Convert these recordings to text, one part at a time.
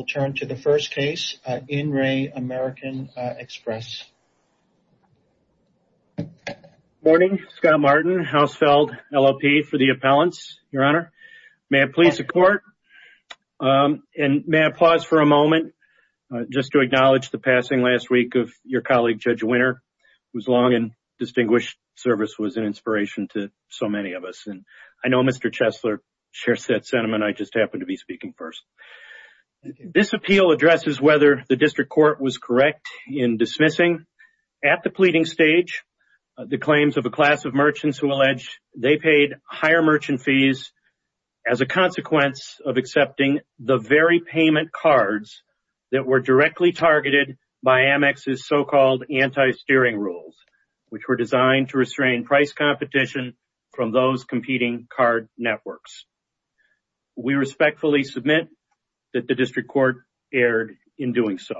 We'll turn to the first case, In Re. American Express. Morning, Scott Martin, Hausfeld LLP for the Appellants, Your Honor. May I please support and may I pause for a moment just to acknowledge the passing last week of your colleague, Judge Winter, whose long and distinguished service was an inspiration to so many of us and I know Mr. Chesler shares that sentiment, I just happened to be speaking first. This appeal addresses whether the district court was correct in dismissing at the pleading stage the claims of a class of merchants who alleged they paid higher merchant fees as a consequence of accepting the very payment cards that were directly targeted by Amex's so-called anti-steering rules, which were designed to restrain price competition from those competing card networks. We respectfully submit that the district court erred in doing so.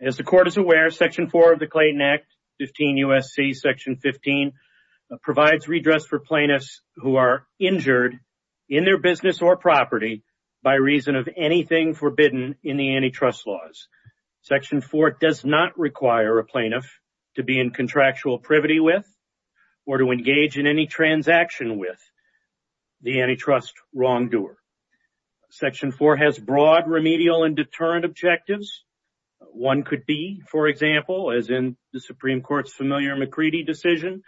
As the court is aware, section 4 of the Clayton Act, 15 U.S.C. section 15 provides redress for plaintiffs who are injured in their business or property by reason of anything forbidden in the antitrust laws. Section 4 does not require a plaintiff to be in contractual privity with or to engage in any transaction with the antitrust wrongdoer. Section 4 has broad remedial and deterrent objectives. One could be, for example, as in the Supreme Court's familiar McCready decision,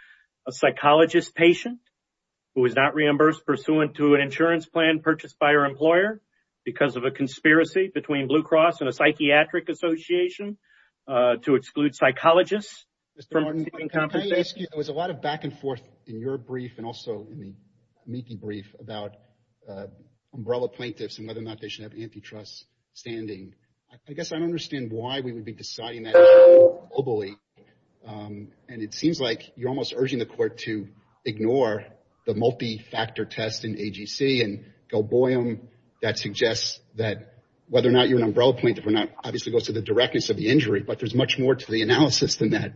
a psychologist patient who was not reimbursed pursuant to an insurance plan purchased by her employer because of a conspiracy between Blue Cross and a psychiatric association to exclude psychologists from competing competition. Mr. Martin, can I ask you, there was a lot of back and forth in your brief and also in the Meekie brief about umbrella plaintiffs and whether or not they should have antitrust standing. I guess I don't understand why we would be deciding that globally. And it seems like you're almost urging the court to ignore the multi-factor test in AGC and go boy them. That suggests that whether or not you're an umbrella plaintiff or not obviously goes to the directness of the injury, but there's much more to the analysis than that.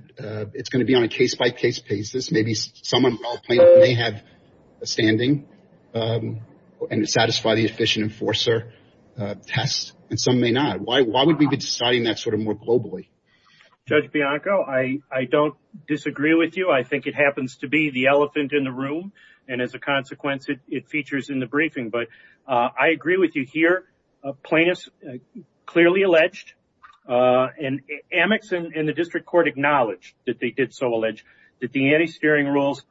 It's going to be on a case-by-case basis. Maybe some umbrella plaintiff may have a standing and satisfy the efficient enforcer test and some may not. Why would we be deciding that sort of more globally? Judge Bianco, I don't disagree with you. I think it happens to be the elephant in the room and as a consequence, it features in the briefing. I agree with you here. Plaintiffs clearly alleged and Amex and the district court acknowledged that they did so allege that the anti-steering rules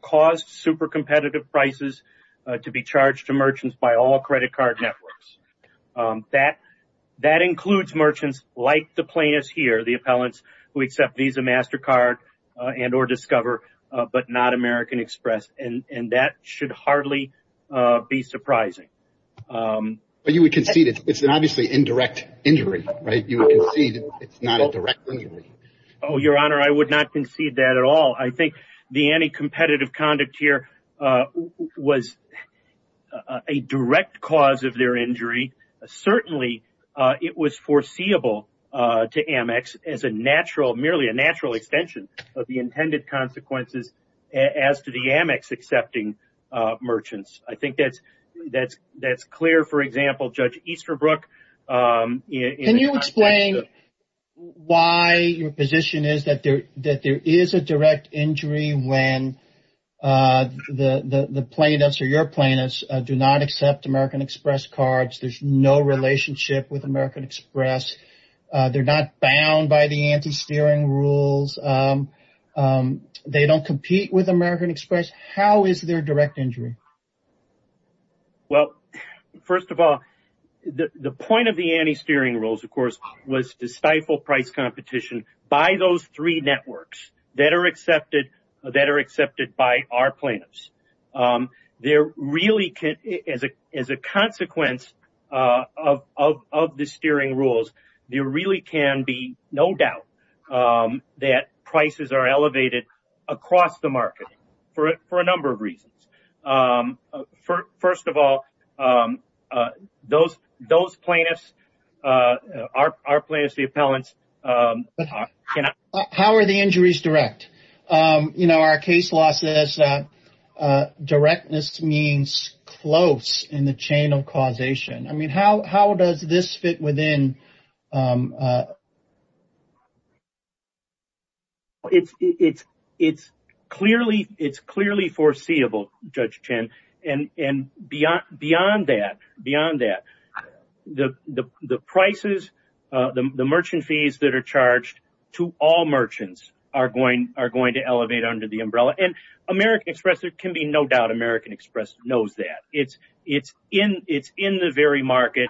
caused super competitive prices to be charged to merchants by all credit card networks. That includes merchants like the plaintiffs here, the appellants who accept Visa, MasterCard and or Discover, but not American Express. That should hardly be surprising. You would concede it's an obviously indirect injury, right? You would concede it's not a direct injury. Your Honor, I would not concede that at all. I think the anti-competitive conduct here was a direct cause of their injury. Certainly, it was foreseeable to Amex as merely a natural extension of the intended consequences as to the Amex accepting merchants. I think that's clear. For example, Judge Easterbrook- Can you explain why your position is that there is a direct injury when the plaintiffs or your plaintiffs do not accept American Express cards? There's no relationship with American Express. They're not bound by the anti-steering rules. They don't compete with American Express. How is there a direct injury? First of all, the point of the anti-steering rules, of course, was to stifle price competition by those three networks that are accepted by our plaintiffs. As a consequence of the steering rules, there really can be no doubt that prices are elevated across the market for a number of reasons. First of all, those plaintiffs, our plaintiffs, the appellants- How are the injuries direct? Our case law says that directness means close in the chain of causation. How does this fit within- It's clearly foreseeable, Judge Chen, and beyond that, the prices, the merchant fees that are charged to all merchants are going to elevate under the umbrella. American Express, there can be no doubt, American Express knows that. It's in the very market-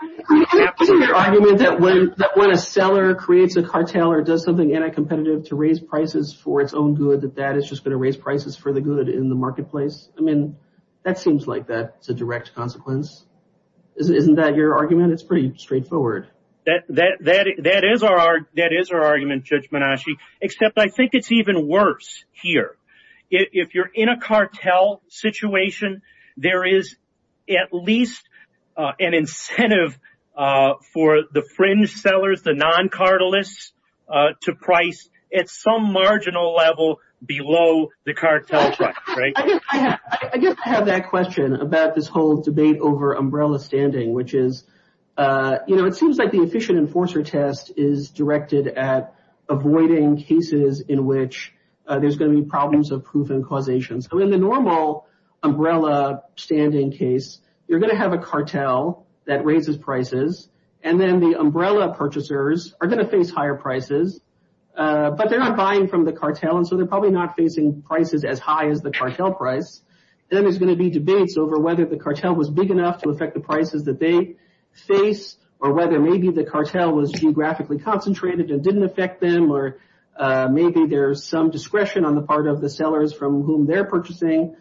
Isn't your argument that when a seller creates a cartel or does something anti-competitive to raise prices for its own good, that that is just going to raise prices for the good in the marketplace? That seems like that's a direct consequence. Isn't that your argument? It's pretty straightforward. That is our argument, Judge Menasche, except I think it's even worse here. If you're in a cartel situation, there is at least an incentive for the fringe sellers, the non-cartelists, to price at some marginal level below the cartel price. I guess I have that question about this whole debate over umbrella standing, which is, it seems like the Efficient Enforcer Test is directed at avoiding cases in which there's going to be problems of proof and causation. In the normal umbrella standing case, you're going to have a cartel that raises prices, and then the umbrella purchasers are going to face higher prices, but they're not buying from the cartel, and so they're probably not facing prices as high as the cartel price. Then there's going to be debates over whether the cartel was big enough to affect the prices that they face, or whether maybe the cartel was geographically concentrated and didn't affect them, or maybe there's some discretion on the part of the sellers from whom they're purchasing,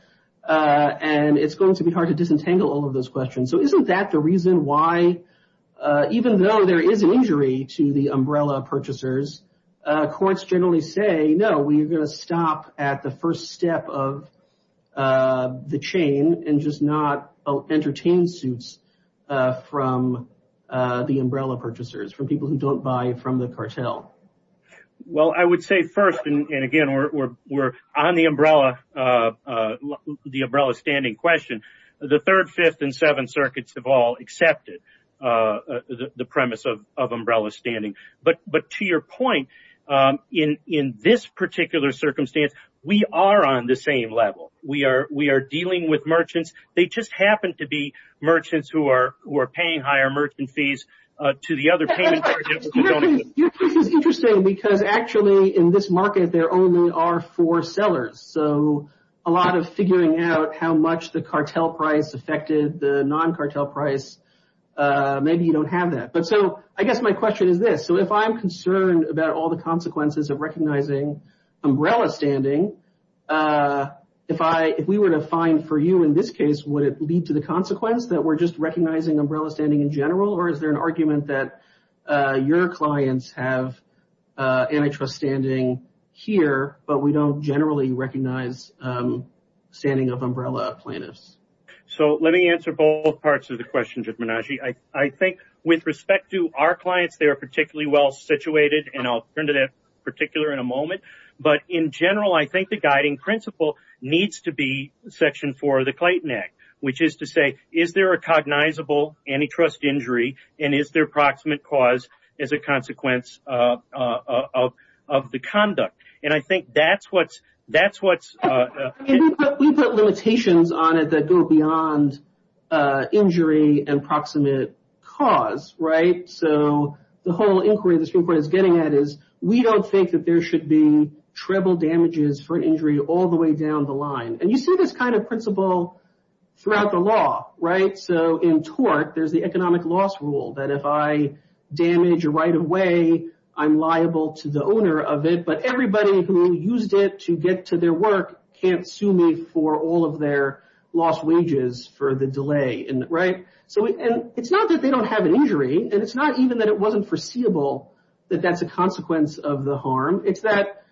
and it's going to be hard to disentangle all of those questions. So isn't that the reason why, even though there is an injury to the umbrella purchasers, courts generally say, no, we are going to stop at the first step of the chain and just not entertain suits from the umbrella purchasers, from people who don't buy from the cartel? Well, I would say first, and again, we're on the umbrella standing question. The Third, Fifth, and Seventh Circuits have all accepted the premise of umbrella standing, but to your point, in this particular circumstance, we are on the same level. We are dealing with merchants. They just happen to be merchants who are paying higher merchant fees to the other payment charges. Your case is interesting because actually, in this market, there only are four sellers, so a lot of figuring out how much the cartel price affected the non-cartel price, maybe you don't have that. So I guess my question is this, so if I'm concerned about all the consequences of recognizing umbrella standing, if we were to find for you in this case, would it lead to the consequence that we're just recognizing umbrella standing in general, or is there an argument that your clients have antitrust standing here, but we don't generally recognize standing of umbrella plaintiffs? So let me answer both parts of the question, Judge Menagie. I think with respect to our clients, they are particularly well-situated, and I'll turn to that in particular in a moment, but in general, I think the guiding principle needs to be Section 4 of the Clayton Act, which is to say, is there a cognizable antitrust injury, and is there proximate cause as a consequence of the conduct? And I think that's what's... We put limitations on it that go beyond injury and proximate cause, right? So the whole inquiry the Supreme Court is getting at is, we don't think that there should be treble damages for an injury all the way down the line. And you see this kind of principle throughout the law, right? So in tort, there's the economic loss rule, that if I damage right away, I'm liable to the owner of it, but everybody who used it to get to their work can't sue me for all of their lost wages for the delay, right? So it's not that they don't have an injury, and it's not even that it wasn't foreseeable that that's a consequence of the harm. It's that,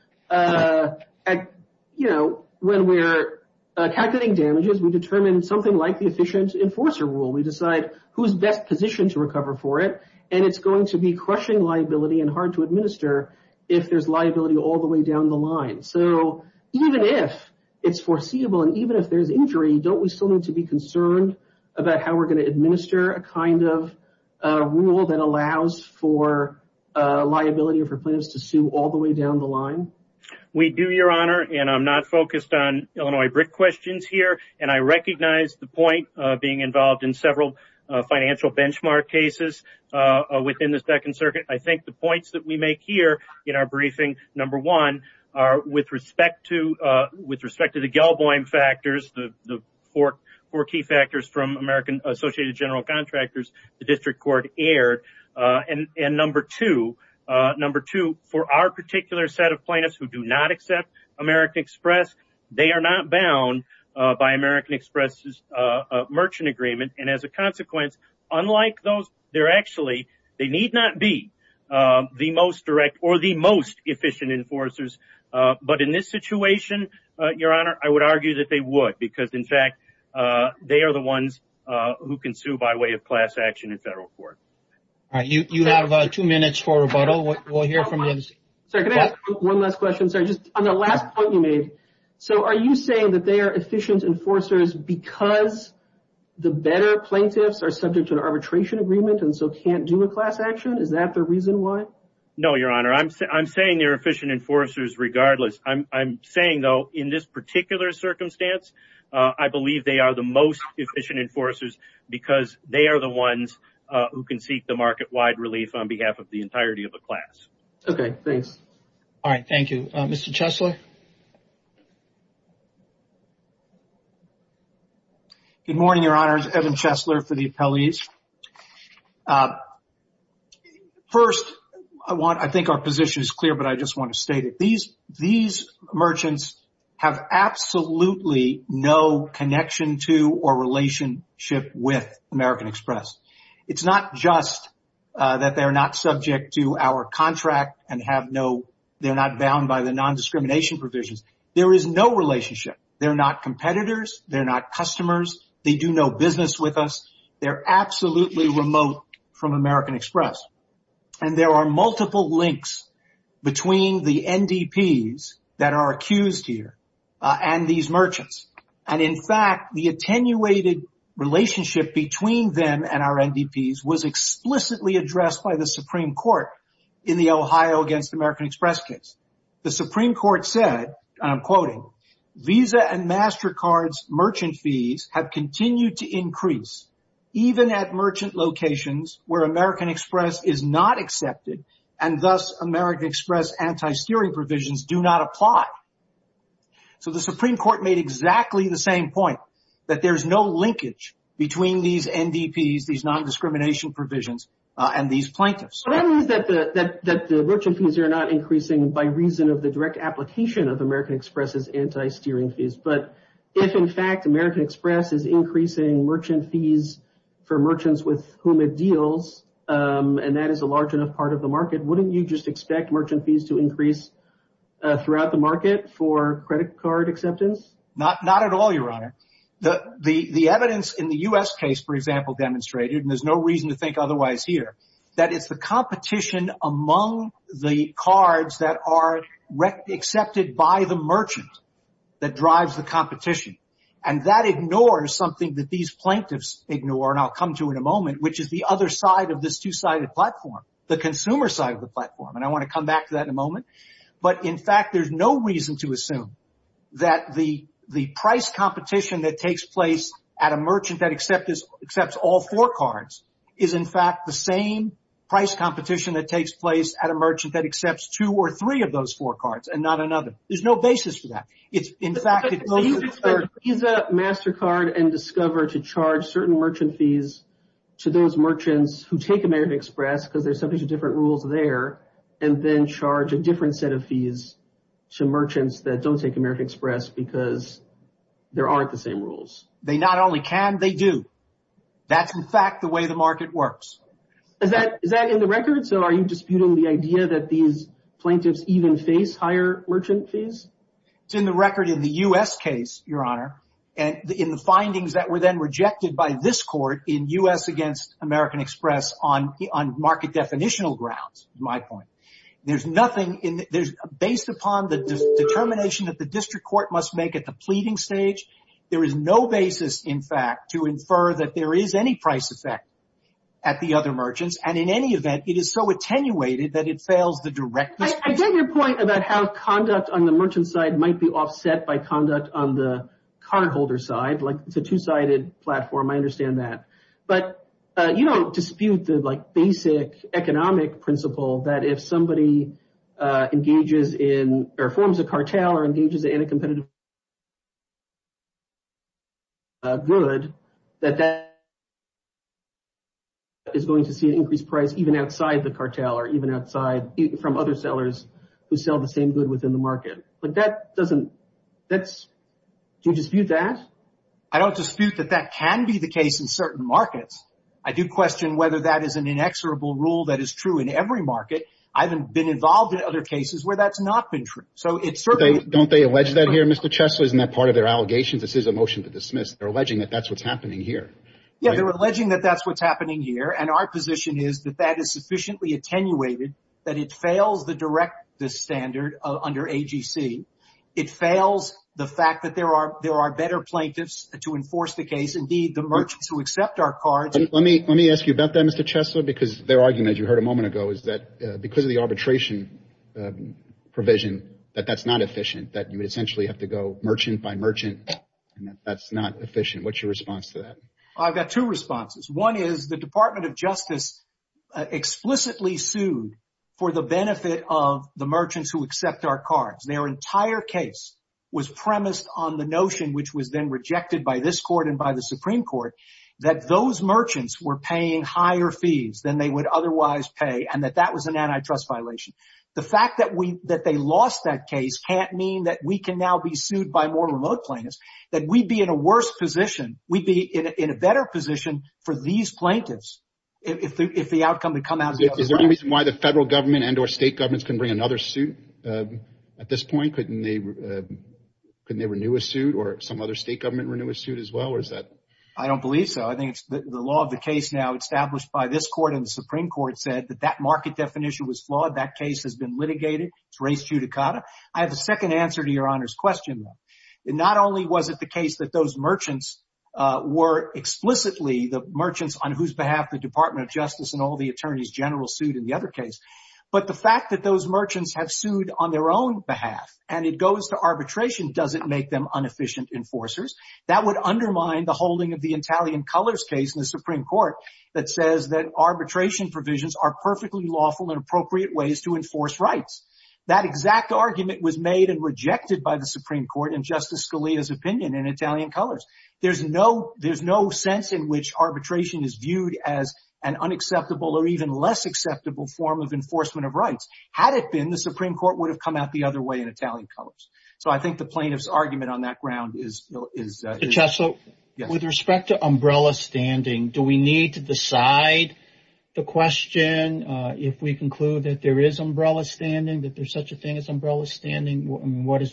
you know, when we're calculating damages, we determine something like the efficient enforcer rule. We decide who's best positioned to recover for it, and it's going to be crushing liability and hard to administer if there's liability all the way down the line. So even if it's foreseeable, and even if there's injury, don't we still need to be concerned about how we're going to administer a kind of rule that allows for liability or for plaintiffs to sue all the way down the line? We do, Your Honor, and I'm not focused on Illinois brick questions here. And I recognize the point of being involved in several financial benchmark cases within the Second Circuit. I think the points that we make here in our briefing, number one, are with respect to the Galboim factors, the four key factors from American Associated General Contractors, the District Court aired, and number two, for our particular set of plaintiffs who do not accept American Express, they are not bound by American Express's merchant agreement. And as a consequence, unlike those, they're actually, they need not be the most direct or the most efficient enforcers. But in this situation, Your Honor, I would argue that they would, because in fact, they are the ones who can sue by way of class action in federal court. All right. You have two minutes for rebuttal. We'll hear from you. Sir, can I ask one last question, sir, just on the last point you made. So are you saying that they are efficient enforcers because the better plaintiffs are subject to an arbitration agreement and so can't do a class action? Is that the reason why? No, Your Honor. I'm saying they're efficient enforcers regardless. I'm saying though, in this particular circumstance, I believe they are the most efficient enforcers because they are the ones who can seek the market-wide relief on behalf of the entirety of the class. Okay. Thanks. All right. Thank you. Mr. Chesler? Good morning, Your Honors. Evan Chesler for the appellees. First, I think our position is clear, but I just want to state it. These merchants have absolutely no connection to or relationship with American Express. It's not just that they're not subject to our contract and they're not bound by the non-discrimination provisions. There is no relationship. They're not competitors. They're not customers. They do no business with us. They're absolutely remote from American Express. There are multiple links between the NDPs that are accused here and these merchants. In fact, the attenuated relationship between them and our NDPs was explicitly addressed by the Supreme Court in the Ohio against American Express case. The Supreme Court said, and I'm quoting, Visa and MasterCard's merchant fees have continued to increase even at merchant locations where American Express is not accepted and thus American Express anti-steering provisions do not apply. The Supreme Court made exactly the same point, that there's no linkage between these NDPs, these non-discrimination provisions, and these plaintiffs. That means that the merchant fees are not increasing by reason of the direct application of American Express's anti-steering fees. But if in fact American Express is increasing merchant fees for merchants with whom it deals, and that is a large enough part of the market, wouldn't you just expect merchant fees to increase throughout the market for credit card acceptance? Not at all, Your Honor. The evidence in the U.S. case, for example, demonstrated, and there's no reason to think otherwise here, that it's the competition among the cards that are accepted by the merchant that drives the competition. And that ignores something that these plaintiffs ignore, and I'll come to in a moment, which is the other side of this two-sided platform, the consumer side of the platform. And I want to come back to that in a moment. But in fact, there's no reason to assume that the price competition that takes place at a merchant that accepts all four cards is in fact the same price competition that takes place at a merchant that accepts two or three of those four cards and not another. There's no basis for that. It's in fact... But he's a MasterCard and Discover to charge certain merchant fees to those merchants who take American Express, because there's some different rules there, and then charge a different set of fees to merchants that don't take American Express because there aren't the same rules. They not only can, they do. That's in fact the way the market works. Is that in the record? So are you disputing the idea that these plaintiffs even face higher merchant fees? It's in the record in the U.S. case, Your Honor, and in the findings that were then rejected by this court in U.S. against American Express on market definitional grounds, my point. There's nothing... Based upon the determination that the district court must make at the pleading stage, there is no basis, in fact, to infer that there is any price effect at the other merchants. And in any event, it is so attenuated that it fails the directness... I get your point about how conduct on the merchant side might be offset by conduct on the cardholder side, like it's a two-sided platform. I understand that. But you don't dispute the basic economic principle that if somebody engages in or forms a outside the cartel or even outside from other sellers who sell the same good within the market. But that doesn't... Do you dispute that? I don't dispute that that can be the case in certain markets. I do question whether that is an inexorable rule that is true in every market. I haven't been involved in other cases where that's not been true. So it's certainly... Don't they allege that here, Mr. Chesler? Isn't that part of their allegations? This is a motion to dismiss. They're alleging that that's what's happening here. Yeah, they're alleging that that's what's happening here. And our position is that that is sufficiently attenuated that it fails to direct the standard under AGC. It fails the fact that there are better plaintiffs to enforce the case. Indeed, the merchants who accept our cards... Let me ask you about that, Mr. Chesler, because their argument, as you heard a moment ago, is that because of the arbitration provision, that that's not efficient, that you essentially have to go merchant by merchant. That's not efficient. What's your response to that? I've got two responses. One is the Department of Justice explicitly sued for the benefit of the merchants who accept our cards. Their entire case was premised on the notion, which was then rejected by this court and by the Supreme Court, that those merchants were paying higher fees than they would otherwise pay and that that was an antitrust violation. The fact that they lost that case can't mean that we can now be sued by more remote plaintiffs, that we'd be in a worse position. We'd be in a better position for these plaintiffs if the outcome had come out... Is there any reason why the federal government and or state governments can bring another suit at this point? Couldn't they renew a suit or some other state government renew a suit as well? I don't believe so. I think it's the law of the case now established by this court and the Supreme Court said that that market definition was flawed. That case has been litigated. It's res judicata. I have a second answer to Your Honor's question. Not only was it the case that those merchants were explicitly the merchants on whose behalf the Department of Justice and all the attorneys general sued in the other case, but the fact that those merchants have sued on their own behalf and it goes to arbitration doesn't make them inefficient enforcers. That would undermine the holding of the Italian colors case in the Supreme Court that says that arbitration provisions are perfectly lawful and appropriate ways to enforce rights. That exact argument was made and rejected by the Supreme Court and Justice Scalia's opinion in Italian colors. There's no there's no sense in which arbitration is viewed as an unacceptable or even less acceptable form of enforcement of rights. Had it been, the Supreme Court would have come out the other way in Italian colors. So I think the plaintiff's argument on that ground is... Justice, with respect to umbrella standing, do we need to decide the question if we conclude that there is umbrella standing, that there's such a thing as umbrella standing?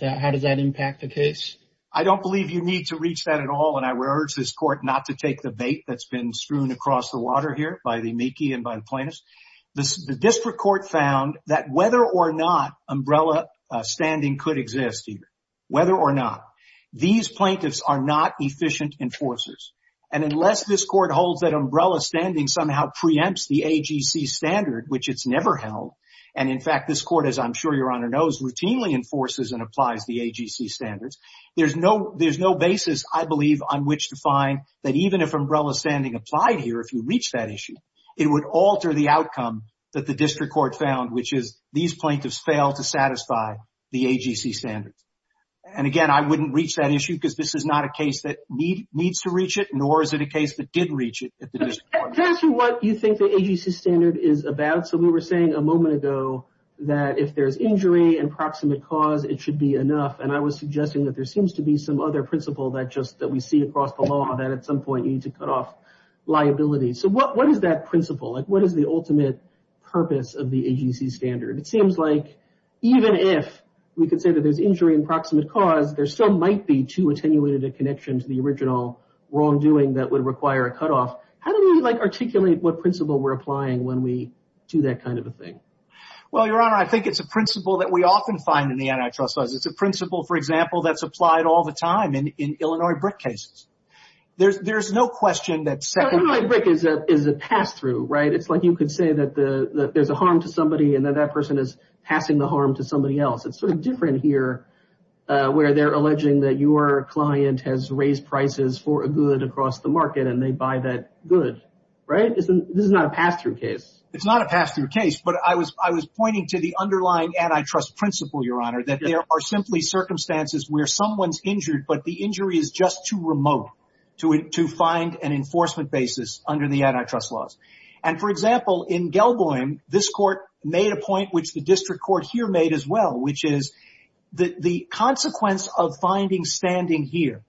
How does that impact the case? I don't believe you need to reach that at all. And I would urge this court not to take the bait that's been strewn across the water here by the meekie and by the plaintiffs. The district court found that whether or not umbrella standing could exist, whether or not, these plaintiffs are not efficient enforcers. And unless this court holds that umbrella standing somehow preempts the AGC standard, which it's never held. And in fact, this court, as I'm sure Your Honor knows, routinely enforces and applies the AGC standards. There's no there's no basis, I believe, on which to find that even if umbrella standing applied here, if you reach that issue, it would alter the outcome that the district court found, which is these plaintiffs fail to satisfy the AGC standards. And again, I wouldn't reach that issue because this is not a case that needs to reach it, nor is it a case that did reach it. Just what you think the AGC standard is about. So we were saying a moment ago that if there's injury and proximate cause, it should be enough. And I was suggesting that there seems to be some other principle that just that we see across the law that at some point you need to cut off liability. So what is that principle? What is the ultimate purpose of the AGC standard? It seems like even if we could say that there's injury and proximate cause, there still might be too attenuated a connection to the original wrongdoing that would require a cutoff. How do we articulate what principle we're applying when we do that kind of a thing? Well, Your Honor, I think it's a principle that we often find in the antitrust laws. It's a principle, for example, that's applied all the time in Illinois brick cases. There's no question that secondhand brick is a pass through, right? It's like you could say that there's a harm to somebody and that that person is passing the harm to somebody else. It's sort of different here where they're alleging that your client has raised prices for a good across the market and they buy that good, right? This is not a pass through case. It's not a pass through case. But I was pointing to the underlying antitrust principle, Your Honor, that there are simply circumstances where someone's injured, but the injury is just too remote to find an enforcement basis under the antitrust laws. And for example, in Gelboim, this court made a point which the district court here made as well, which is that the consequence of finding standing here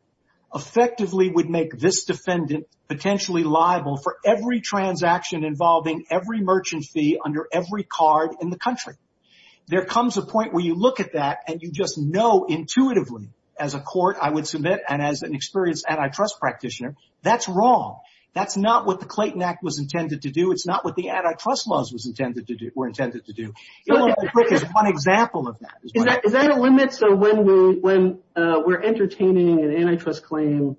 effectively would make this defendant potentially liable for every transaction involving every merchant fee under every card in the country. There comes a point where you look at that and you just know intuitively as a court, I would submit, and as an experienced antitrust practitioner, that's wrong. That's not what the Clayton Act was intended to do. It's not what the antitrust laws were intended to do. It's one example of that. Is that a limit? So when we're entertaining an antitrust claim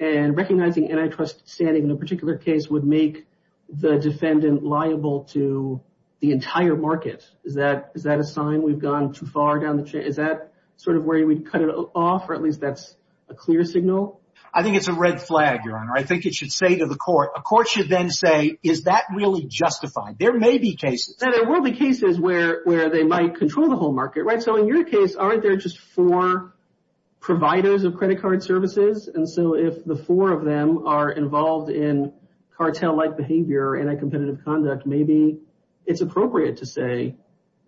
and recognizing antitrust standing in a particular case would make the defendant liable to the entire market, is that a sign we've gone too far down the chain? Is that sort of where we'd cut it off? Or at least that's a clear signal? I think it's a red flag, Your Honor. I think it should say to the court, a court should then say, is that really justified? There may be cases. There will be cases where they might control the whole market, right? So in your case, aren't there just four providers of credit card services? And so if the four of them are involved in cartel-like behavior, anti-competitive conduct, maybe it's appropriate to say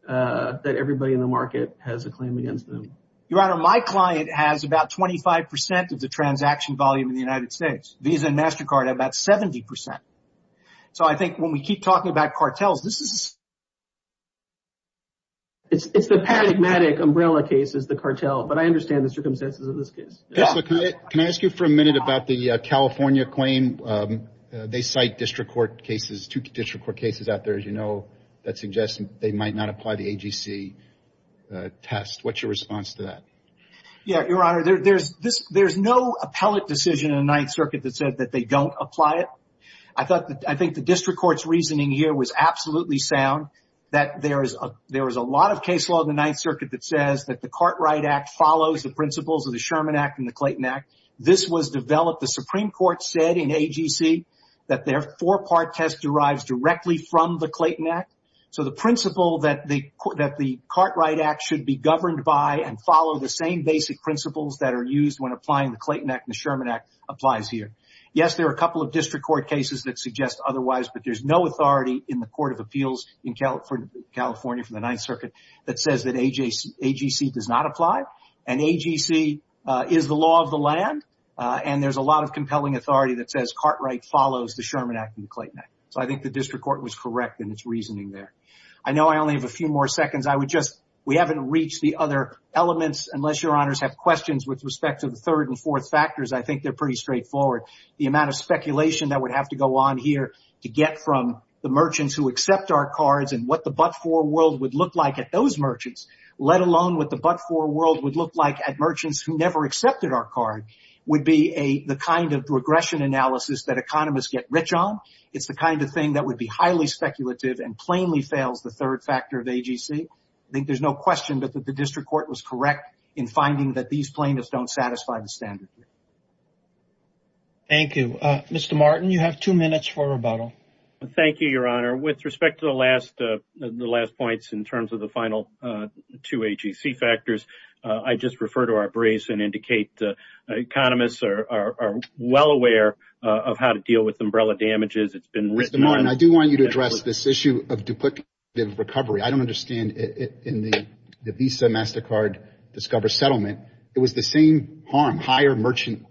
that everybody in the market has a claim against them. Your Honor, my client has about 25% of the transaction volume in the United States. Visa and MasterCard have about 70%. So I think when we keep talking about cartels, this is... It's the paradigmatic umbrella case, is the cartel. But I understand the circumstances of this case. Can I ask you for a minute about the California claim? They cite district court cases, two district court cases out there, as you know, that suggest they might not apply the AGC test. What's your response to that? Yeah, Your Honor, there's no appellate decision in the Ninth Circuit that said that they don't apply it. I think the district court's reasoning here was absolutely sound, that there is a lot of case law in the Ninth Circuit that says that the Cartwright Act follows the principles of the Sherman Act and the Clayton Act. This was developed, the Supreme Court said in AGC, that their four-part test derives directly from the Clayton Act. So the principle that the Cartwright Act should be governed by and follow the same basic principles that are used when applying the Clayton Act and the Sherman Act applies here. Yes, there are a couple of district court cases that suggest otherwise, but there's no authority in the Court of Appeals in California for the Ninth Circuit that says that AGC does not apply, and AGC is the law of the land, and there's a lot of compelling authority that says Cartwright follows the Sherman Act and the Clayton Act. So I think the district court was correct in its reasoning there. I know I only have a few more seconds. I would just, we haven't reached the other elements, unless Your Honors have questions with respect to the third and fourth factors. I think they're pretty straightforward. The amount of speculation that would have to go on here to get from the merchants who accept our cards and what the but-for world would look like at those merchants, let alone what the but-for world would look like at merchants who never accepted our card, would be the kind of regression analysis that economists get rich on. It's the kind of thing that would be highly speculative and plainly fails the third factor of AGC. I think there's no question that the district court was correct in finding that these plaintiffs don't satisfy the standard. Thank you. Mr. Martin, you have two minutes for rebuttal. Thank you, Your Honor. With respect to the last points in terms of the final two AGC factors, I'd just refer to our brace and indicate economists are well aware of how to deal with umbrella damages. It's been written on. Mr. Martin, I do want you to address this issue of duplicative recovery. I don't understand. In the Visa MasterCard Discover Settlement, it was the same harm, higher merchant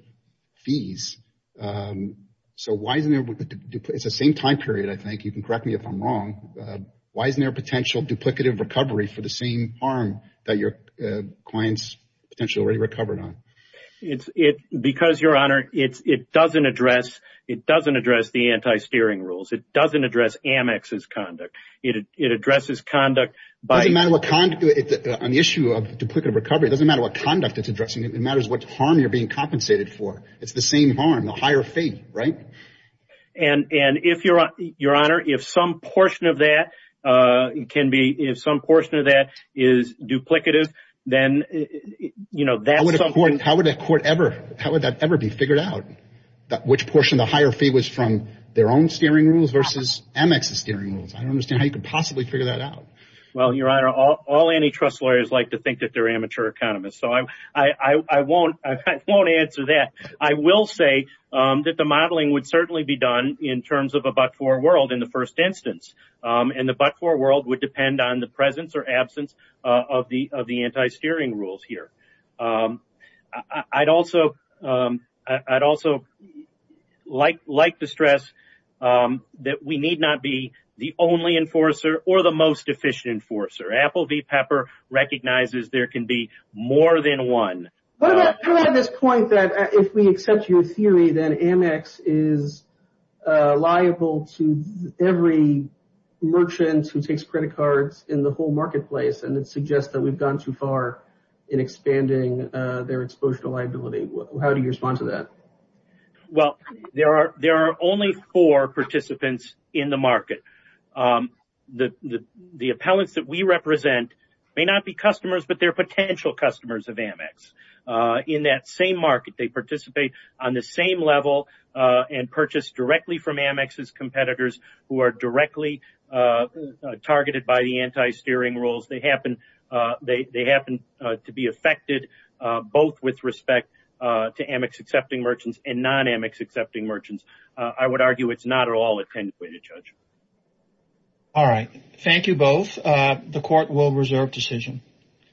fees. It's the same time period, I think. You can correct me if I'm wrong. Why isn't there a potential duplicative recovery for the same harm that your client's potential already recovered on? Because, Your Honor, it doesn't address the anti-steering rules. It doesn't address Amex's conduct. It addresses conduct by... It doesn't matter what conduct... On the issue of duplicative recovery, it doesn't matter what conduct it's addressing. It matters what harm you're being compensated for. It's the same harm, the higher fee, right? And if, Your Honor, if some portion of that can be... If some portion of that is duplicative, then that's something... How would that court ever... How would that ever be figured out, which portion of the higher fee was from their own steering rules versus Amex's steering rules? I don't understand how you could possibly figure that out. Well, Your Honor, all antitrust lawyers like to think that they're amateur economists. So I won't answer that. I will say that the modeling would certainly be done in terms of a but-for world in the first instance. And the but-for world would depend on the presence or absence of the anti-steering rules here. I'd also like to stress that we need not be the only enforcer or the most efficient enforcer. Apple v. Pepper recognizes there can be more than one. What about this point that if we accept your theory, then Amex is liable to every merchant who takes credit cards in the whole marketplace. And it suggests that we've gone too far in expanding their exposure to liability. How do you respond to that? Well, there are only four participants in the market. The appellants that we represent may not be customers, but they're potential customers of Amex. In that same market, they participate on the same level and purchase directly from Amex's competitors who are directly targeted by the anti-steering rules. They happen to be affected both with respect to Amex-accepting merchants and non-Amex-accepting merchants. I would argue it's not at all a ten-pointed judge. All right. Thank you both. The court will reserve decision.